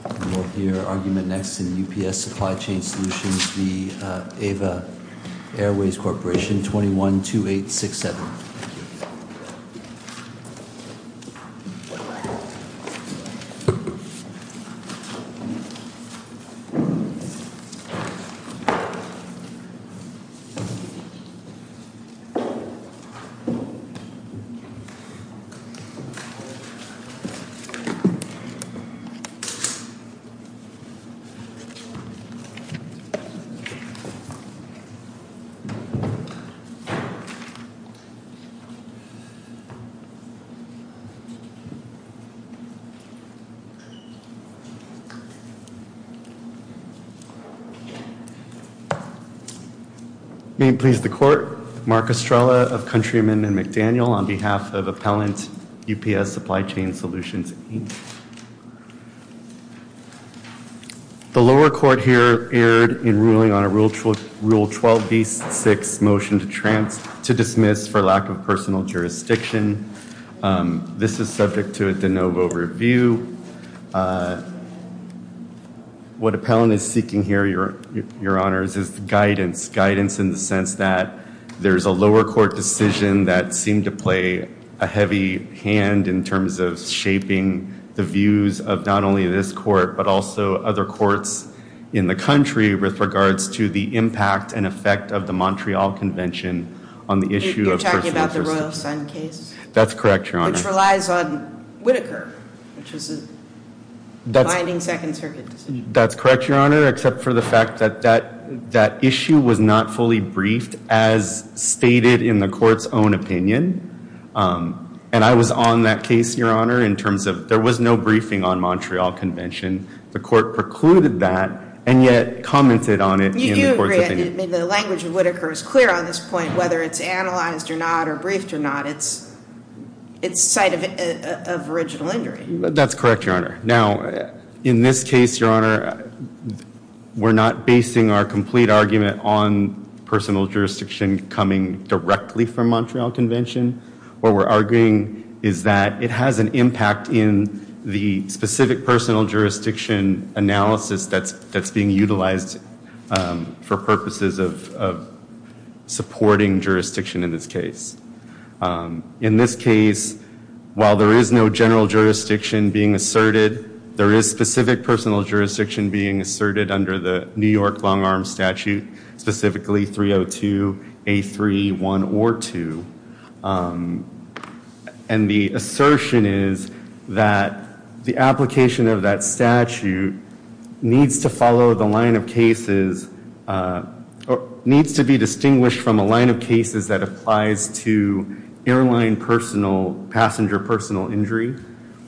21-2867. Mark Estrella. The lower court here erred in ruling on a Rule 12b-6 motion to dismiss for lack of personal jurisdiction. This is subject to a de novo review. What appellant is seeking here, your honors, is guidance. Guidance in the sense that there's a lower court decision that seemed to play a heavy hand in terms of shaping the views of not only this court but also other courts in the country with regards to the impact and effect of the Montreal Convention on the issue of personal jurisdiction. You're talking about the Royal Sun case? That's correct, your honors. Which relies on Whitaker, which was a binding second circuit decision. That's correct, your honor, except for the fact that that issue was not fully briefed as stated in the court's own opinion. And I was on that case, your honor, in terms of there was no briefing on Montreal Convention. The court precluded that and yet commented on it in the court's opinion. The language of Whitaker is clear on this point, whether it's analyzed or not or briefed or not, it's sight of original injury. That's correct, your honor. Now, in this case, your honor, we're not basing our complete argument on personal jurisdiction coming directly from Montreal Convention. What we're arguing is that it has an impact in the specific personal jurisdiction analysis that's being utilized for purposes of supporting jurisdiction in this case. In this case, while there is no general jurisdiction being asserted, there is specific personal jurisdiction being asserted under the New York long arm statute, specifically 302, A3, 1 or 2. And the assertion is that the application of that statute needs to follow the line of cases or needs to be distinguished from a line of cases that applies to airline passenger personal injury.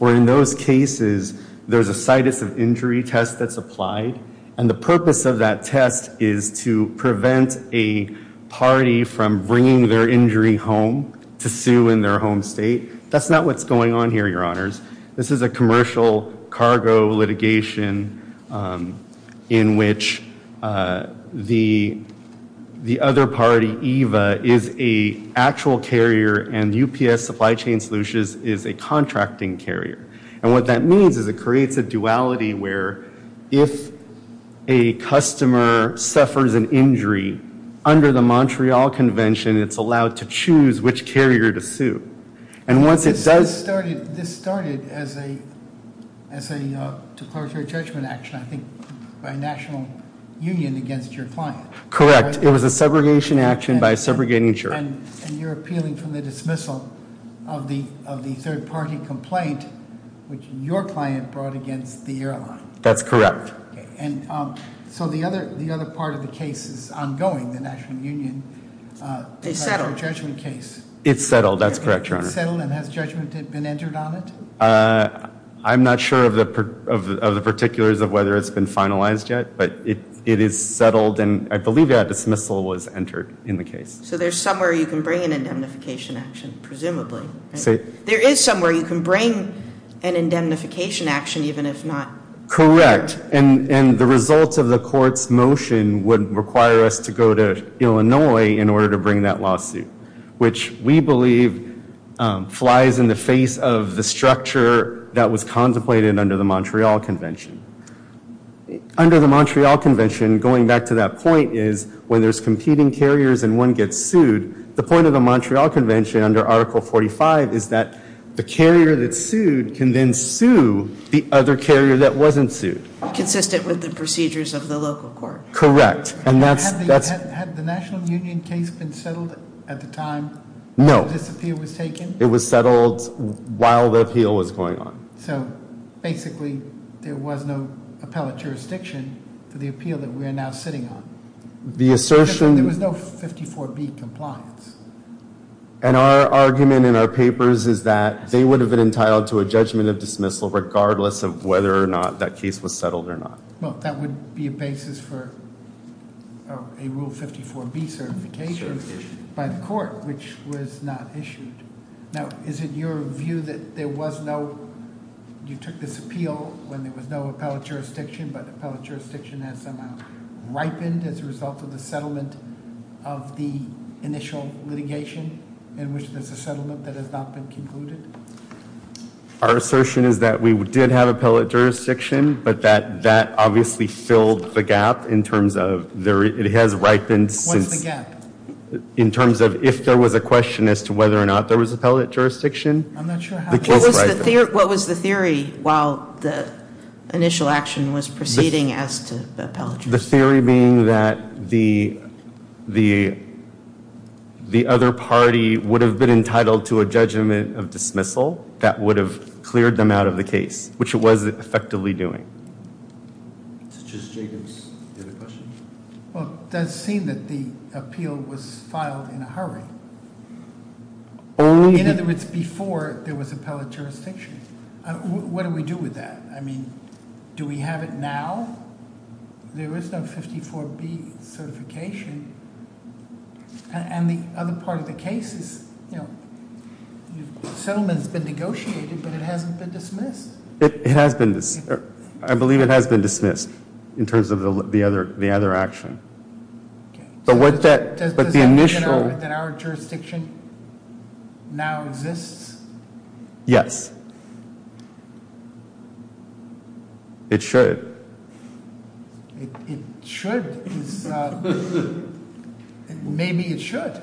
Or in those cases, there's a sight of injury test that's applied. And the purpose of that test is to prevent a party from bringing their injury home to sue in their home state. That's not what's going on here, your honors. This is a commercial cargo litigation in which the other party, EVA, is a actual carrier and UPS Supply Chain Solutions is a contracting carrier. And what that means is it creates a duality where if a customer suffers an injury under the Montreal Convention, it's allowed to choose which carrier to sue. And once it does- This started as a declaratory judgment action, I think, by National Union against your client. Correct, it was a segregation action by a subrogating insurer. And you're appealing from the dismissal of the third party complaint which your client brought against the airline. That's correct. Okay, and so the other part of the case is ongoing, the National Union- They settled. Declaratory judgment case. It's settled, that's correct, your honor. It's settled and has judgment been entered on it? I'm not sure of the particulars of whether it's been finalized yet, but it is settled and I believe a dismissal was entered in the case. So there's somewhere you can bring an indemnification action, presumably. There is somewhere you can bring an indemnification action even if not- Which we believe flies in the face of the structure that was contemplated under the Montreal Convention. Under the Montreal Convention, going back to that point, is when there's competing carriers and one gets sued, the point of the Montreal Convention under Article 45 is that the carrier that's sued can then sue the other carrier that wasn't sued. Consistent with the procedures of the local court. Correct. Had the National Union case been settled at the time- No. This appeal was taken? It was settled while the appeal was going on. So basically there was no appellate jurisdiction for the appeal that we are now sitting on. The assertion- There was no 54B compliance. And our argument in our papers is that they would have been entitled to a judgment of dismissal regardless of whether or not that case was settled or not. Well, that would be a basis for a Rule 54B certification- Certification. By the court, which was not issued. Now, is it your view that there was no, you took this appeal when there was no appellate jurisdiction, but the appellate jurisdiction has somehow ripened as a result of the settlement of the initial litigation, in which there's a settlement that has not been concluded? Our assertion is that we did have appellate jurisdiction, but that obviously filled the gap in terms of, it has ripened since- What's the gap? In terms of if there was a question as to whether or not there was appellate jurisdiction, the case ripened. What was the theory while the initial action was proceeding as to appellate jurisdiction? The theory being that the other party would have been entitled to a judgment of dismissal that would have cleared them out of the case, which it was effectively doing. Does Jacobs have a question? Well, it does seem that the appeal was filed in a hurry. In other words, before there was appellate jurisdiction. What do we do with that? I mean, do we have it now? There is no 54B certification. And the other part of the case is, the settlement's been negotiated, but it hasn't been dismissed. It has been dismissed. I believe it has been dismissed in terms of the other action. But what that- Does that mean that our jurisdiction now exists? Yes. It should. It should? Maybe it should.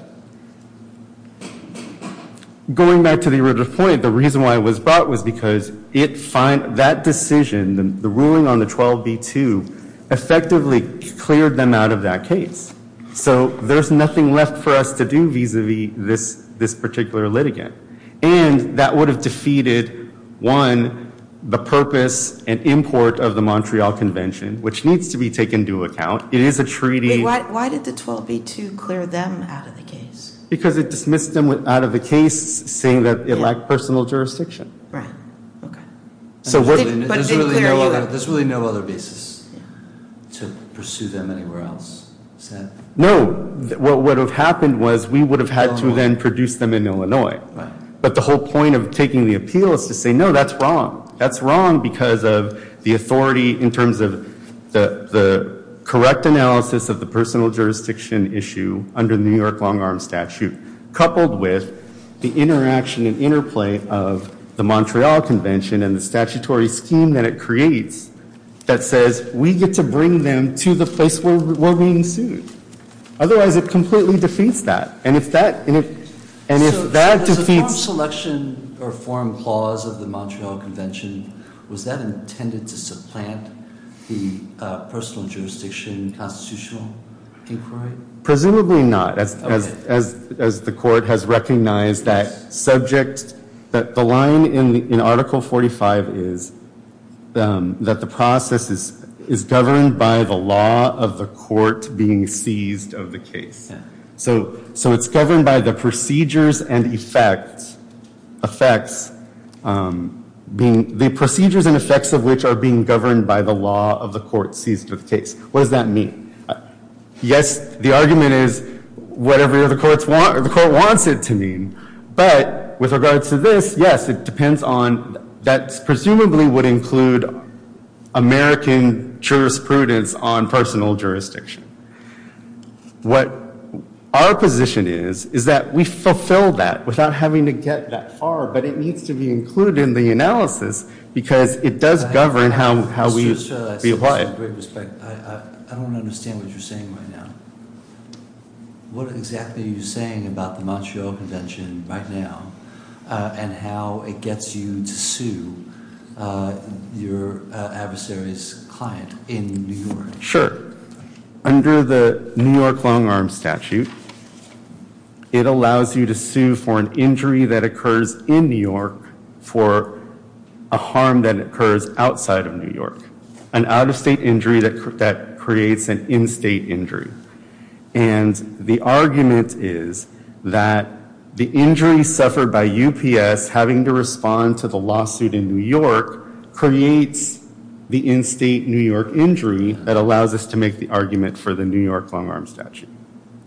Going back to the original point, the reason why it was brought was because that decision, the ruling on the 12B-2, effectively cleared them out of that case. So there's nothing left for us to do vis-a-vis this particular litigant. And that would have defeated, one, the purpose and import of the Montreal Convention, which needs to be taken into account. It is a treaty- Wait, why did the 12B-2 clear them out of the case? Because it dismissed them out of the case, saying that it lacked personal jurisdiction. Right. Okay. There's really no other basis to pursue them anywhere else? No. What would have happened was we would have had to then produce them in Illinois. But the whole point of taking the appeal is to say, no, that's wrong. That's wrong because of the authority in terms of the correct analysis of the personal jurisdiction issue under the New York long-arm statute, coupled with the interaction and interplay of the Montreal Convention and the statutory scheme that it creates that says, we get to bring them to the place where we're being sued. Otherwise, it completely defeats that. And if that defeats- So, as a foreign selection or foreign clause of the Montreal Convention, was that intended to supplant the personal jurisdiction constitutional inquiry? Presumably not. As the court has recognized that subject, that the line in Article 45 is that the process is governed by the law of the court being seized of the case. So it's governed by the procedures and effects of which are being governed by the law of the court seized of the case. What does that mean? Yes, the argument is whatever the court wants it to mean. But with regards to this, yes, it depends on- that presumably would include American jurisprudence on personal jurisdiction. What our position is, is that we fulfill that without having to get that far, but it needs to be included in the analysis because it does govern how we apply it. I don't understand what you're saying right now. What exactly are you saying about the Montreal Convention right now and how it gets you to sue your adversary's client in New York? Sure. Under the New York long-arm statute, it allows you to sue for an injury that occurs in New York for a harm that occurs outside of New York. An out-of-state injury that creates an in-state injury. And the argument is that the injury suffered by UPS having to respond to the lawsuit in New York creates the in-state New York injury that allows us to make the argument for the New York long-arm statute.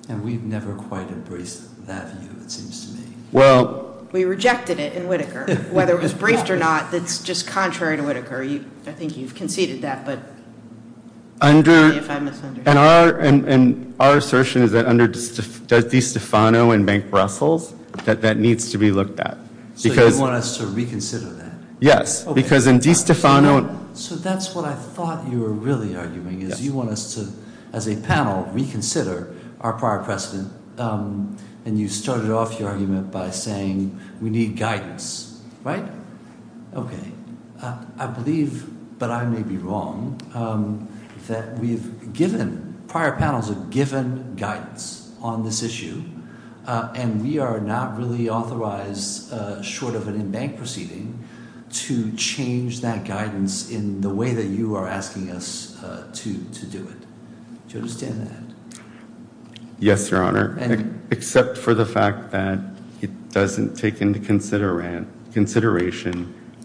And we've never quite embraced that view, it seems to me. Well- We rejected it in Whitaker. Whether it was briefed or not, that's just contrary to Whitaker. I think you've conceded that, but- Under- Sorry if I misunderstood. And our assertion is that under DeStefano and Bank Brussels, that that needs to be looked at. So you want us to reconsider that? Yes, because in DeStefano- So that's what I thought you were really arguing, is you want us to, as a panel, reconsider our prior precedent, and you started off your argument by saying we need guidance. Right? Okay. I believe, but I may be wrong, that we've given, prior panels have given guidance on this issue, and we are not really authorized, short of an in-bank proceeding, to change that guidance in the way that you are asking us to do it. Do you understand that? Yes, Your Honor. And- Except for the fact that it doesn't take into consideration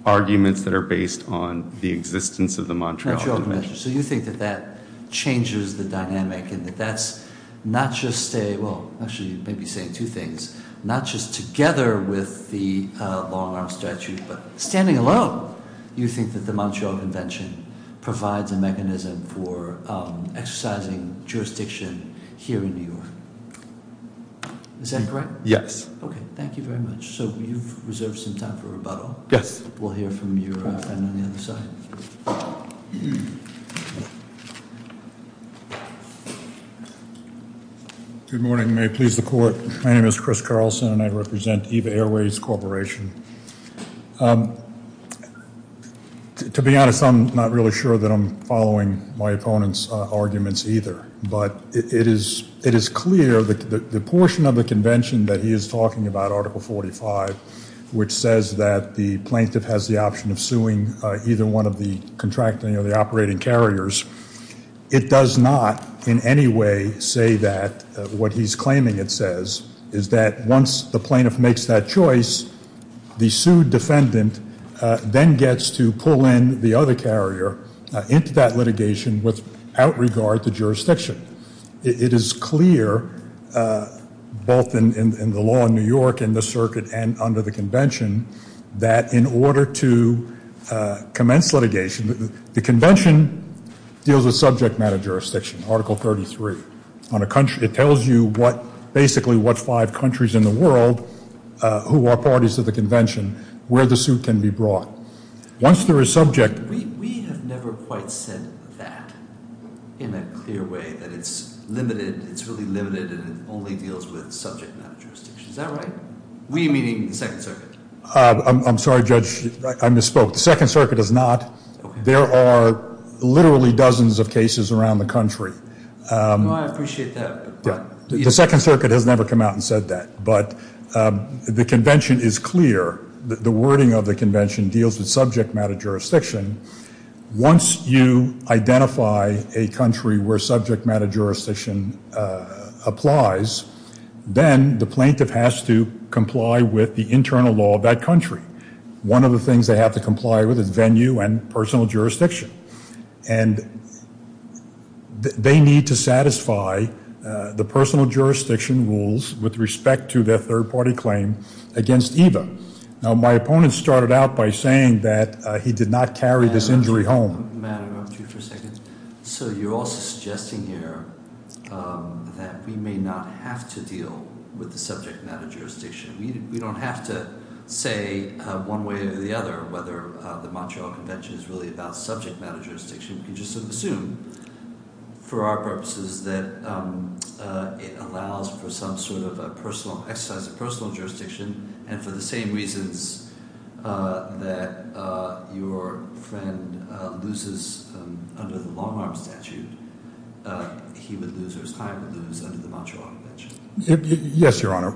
arguments that are based on the existence of the Montreal Convention. Montreal Convention. So you think that that changes the dynamic and that that's not just a- Well, actually, you may be saying two things. Not just together with the long-arm statute, but standing alone, you think that the Montreal Convention provides a mechanism for exercising jurisdiction here in New York. Is that correct? Yes. Okay, thank you very much. So you've reserved some time for rebuttal. Yes. We'll hear from your friend on the other side. Good morning. May it please the Court. My name is Chris Carlson, and I represent Eva Airways Corporation. To be honest, I'm not really sure that I'm following my opponent's arguments either. But it is clear that the portion of the convention that he is talking about, Article 45, which says that the plaintiff has the option of suing either one of the contracting or the operating carriers, it does not in any way say that what he's claiming it says is that once the plaintiff makes that choice, the sued defendant then gets to pull in the other carrier into that litigation without regard to jurisdiction. It is clear, both in the law in New York and the circuit and under the convention, that in order to commence litigation, the convention deals with subject matter jurisdiction, Article 33. It tells you basically what five countries in the world who are parties to the convention, where the suit can be brought. We have never quite said that in a clear way, that it's limited, it's really limited, and it only deals with subject matter jurisdiction. Is that right? We meaning the Second Circuit? I'm sorry, Judge, I misspoke. The Second Circuit does not. There are literally dozens of cases around the country. I appreciate that. The Second Circuit has never come out and said that. But the convention is clear. The wording of the convention deals with subject matter jurisdiction. Once you identify a country where subject matter jurisdiction applies, then the plaintiff has to comply with the internal law of that country. One of the things they have to comply with is venue and personal jurisdiction. And they need to satisfy the personal jurisdiction rules with respect to their third-party claim against EVA. Now, my opponent started out by saying that he did not carry this injury home. Matt, I want you for a second. So you're also suggesting here that we may not have to deal with the subject matter jurisdiction. We don't have to say one way or the other whether the Montreal Convention is really about subject matter jurisdiction. We can just assume for our purposes that it allows for some sort of exercise of personal jurisdiction and for the same reasons that your friend loses under the long-arm statute, he would lose or his client would lose under the Montreal Convention. Yes, Your Honor.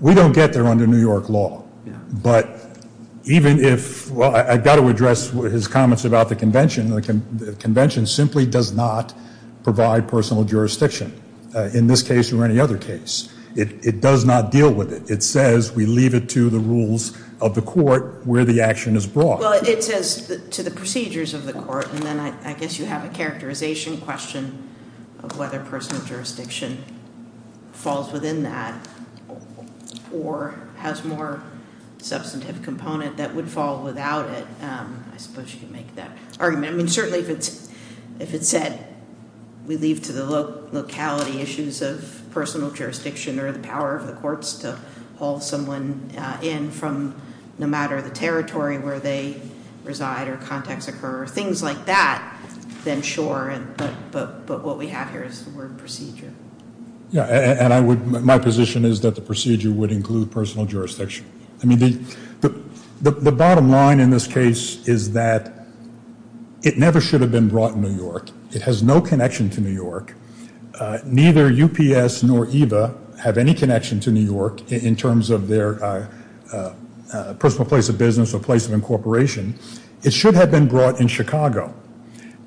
We don't get there under New York law. But even if, well, I've got to address his comments about the convention. The convention simply does not provide personal jurisdiction in this case or any other case. It does not deal with it. It says we leave it to the rules of the court where the action is brought. Well, it says to the procedures of the court. And then I guess you have a characterization question of whether personal jurisdiction falls within that or has more substantive component that would fall without it. I suppose you could make that argument. I mean, certainly if it said we leave to the locality issues of personal jurisdiction or the power of the courts to haul someone in from no matter the territory where they reside or contacts occur or things like that, then sure. But what we have here is the word procedure. Yeah, and my position is that the procedure would include personal jurisdiction. I mean, the bottom line in this case is that it never should have been brought in New York. It has no connection to New York. Neither UPS nor EVA have any connection to New York in terms of their personal place of business or place of incorporation. It should have been brought in Chicago.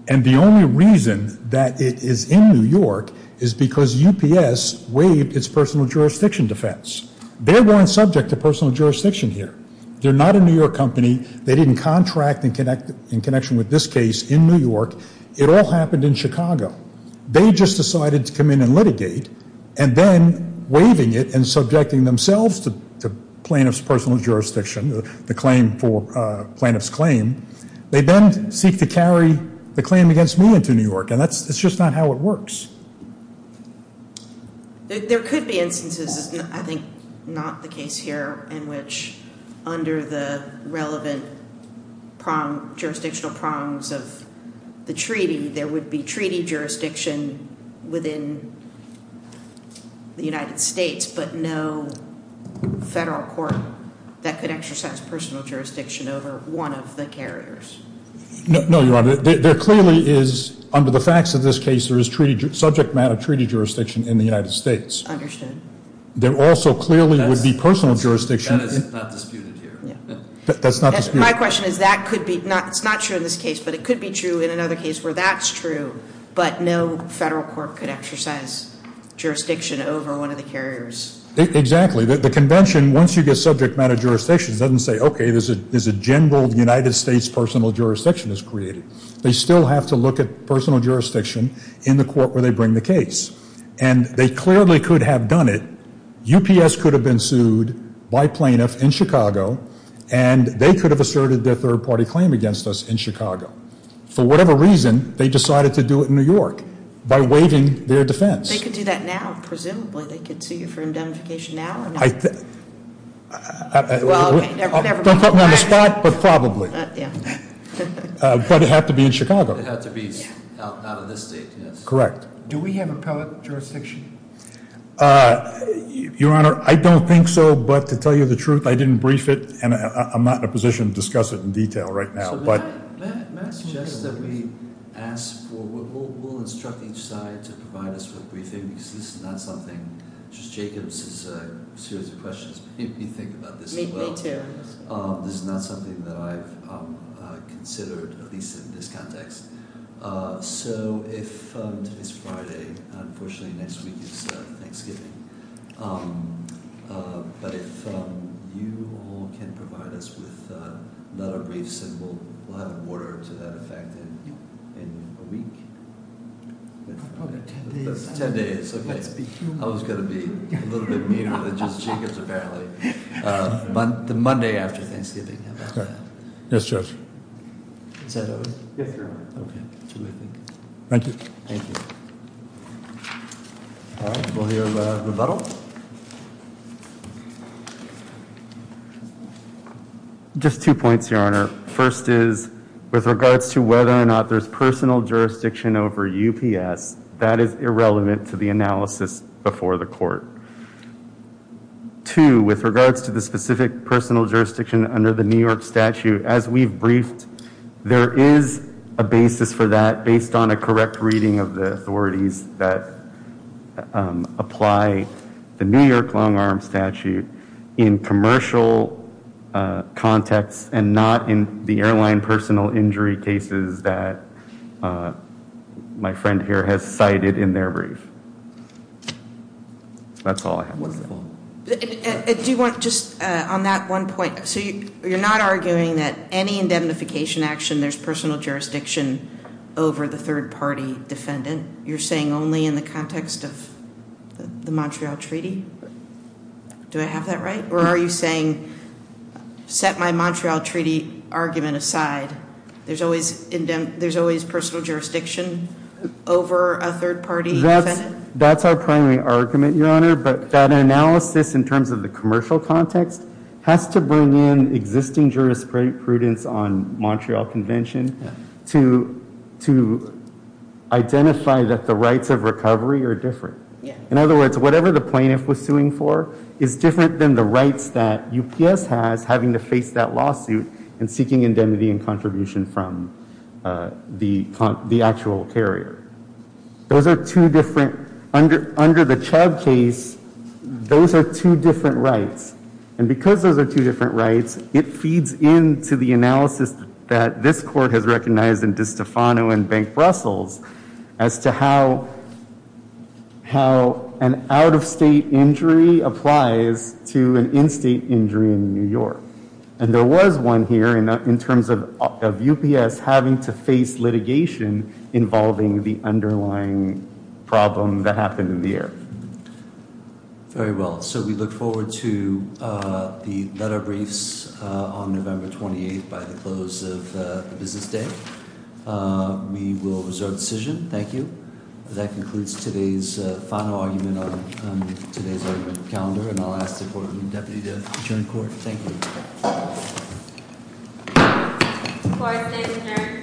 And the only reason that it is in New York is because UPS waived its personal jurisdiction defense. They weren't subject to personal jurisdiction here. They're not a New York company. They didn't contract in connection with this case in New York. It all happened in Chicago. They just decided to come in and litigate and then waiving it and subjecting themselves to plaintiff's personal jurisdiction, the claim for plaintiff's claim. They then seek to carry the claim against me into New York, and that's just not how it works. There could be instances, I think not the case here, in which under the relevant jurisdictional prongs of the treaty, there would be treaty jurisdiction within the United States, but no federal court that could exercise personal jurisdiction over one of the carriers. No, Your Honor. There clearly is, under the facts of this case, there is subject matter treaty jurisdiction in the United States. Understood. There also clearly would be personal jurisdiction. That is not disputed here. That's not disputed. My question is that could be, it's not true in this case, but it could be true in another case where that's true, but no federal court could exercise jurisdiction over one of the carriers. The convention, once you get subject matter jurisdiction, doesn't say, okay, there's a general United States personal jurisdiction that's created. They still have to look at personal jurisdiction in the court where they bring the case, and they clearly could have done it. UPS could have been sued by plaintiff in Chicago, and they could have asserted their third-party claim against us in Chicago. For whatever reason, they decided to do it in New York by waiving their defense. They could do that now, presumably. They could sue you for indemnification now or not? Well, okay, never mind. Don't put me on the spot, but probably. Yeah. But it had to be in Chicago. It had to be out of this state, yes. Correct. Do we have appellate jurisdiction? Your Honor, I don't think so, but to tell you the truth, I didn't brief it, and I'm not in a position to discuss it in detail right now. May I suggest that we ask for, we'll instruct each side to provide us with a briefing, because this is not something, just Jacobs' series of questions made me think about this as well. Me too. This is not something that I've considered, at least in this context. So if today's Friday, unfortunately next week is Thanksgiving, but if you all can provide us with another briefs, and we'll have an order to that effect in a week. Ten days. Ten days, okay. I was going to be a little bit meaner than just Jacobs apparently. The Monday after Thanksgiving. Yes, Judge. Is that it? Yes, Your Honor. Okay. Thank you. Thank you. All right. We'll hear a rebuttal. Just two points, Your Honor. First is, with regards to whether or not there's personal jurisdiction over UPS, that is irrelevant to the analysis before the court. Two, with regards to the specific personal jurisdiction under the New York statute, as we've briefed, there is a basis for that, based on a correct reading of the authorities that apply the New York long-arm statute. In commercial context and not in the airline personal injury cases that my friend here has cited in their brief. That's all I have. Do you want just on that one point, so you're not arguing that any indemnification action, there's personal jurisdiction over the third party defendant? You're saying only in the context of the Montreal Treaty? Do I have that right? Or are you saying, set my Montreal Treaty argument aside. There's always personal jurisdiction over a third party defendant? That's our primary argument, Your Honor, but that analysis in terms of the commercial context has to bring in existing jurisprudence on Montreal Convention to identify that the rights of recovery are different. In other words, whatever the plaintiff was suing for is different than the rights that UPS has having to face that lawsuit and seeking indemnity and contribution from the actual carrier. Those are two different, under the Chubb case, those are two different rights. And because those are two different rights, it feeds into the analysis that this court has recognized in DiStefano and Bank Brussels as to how an out-of-state injury applies to an in-state injury in New York. And there was one here in terms of UPS having to face litigation involving the underlying problem that happened in the air. Very well. So we look forward to the letter briefs on November 28th by the close of the business day. We will reserve the decision. Thank you. That concludes today's final argument on today's argument calendar. And I'll ask the Courtroom Deputy to adjourn court. Thank you. Court is adjourned. Thank you.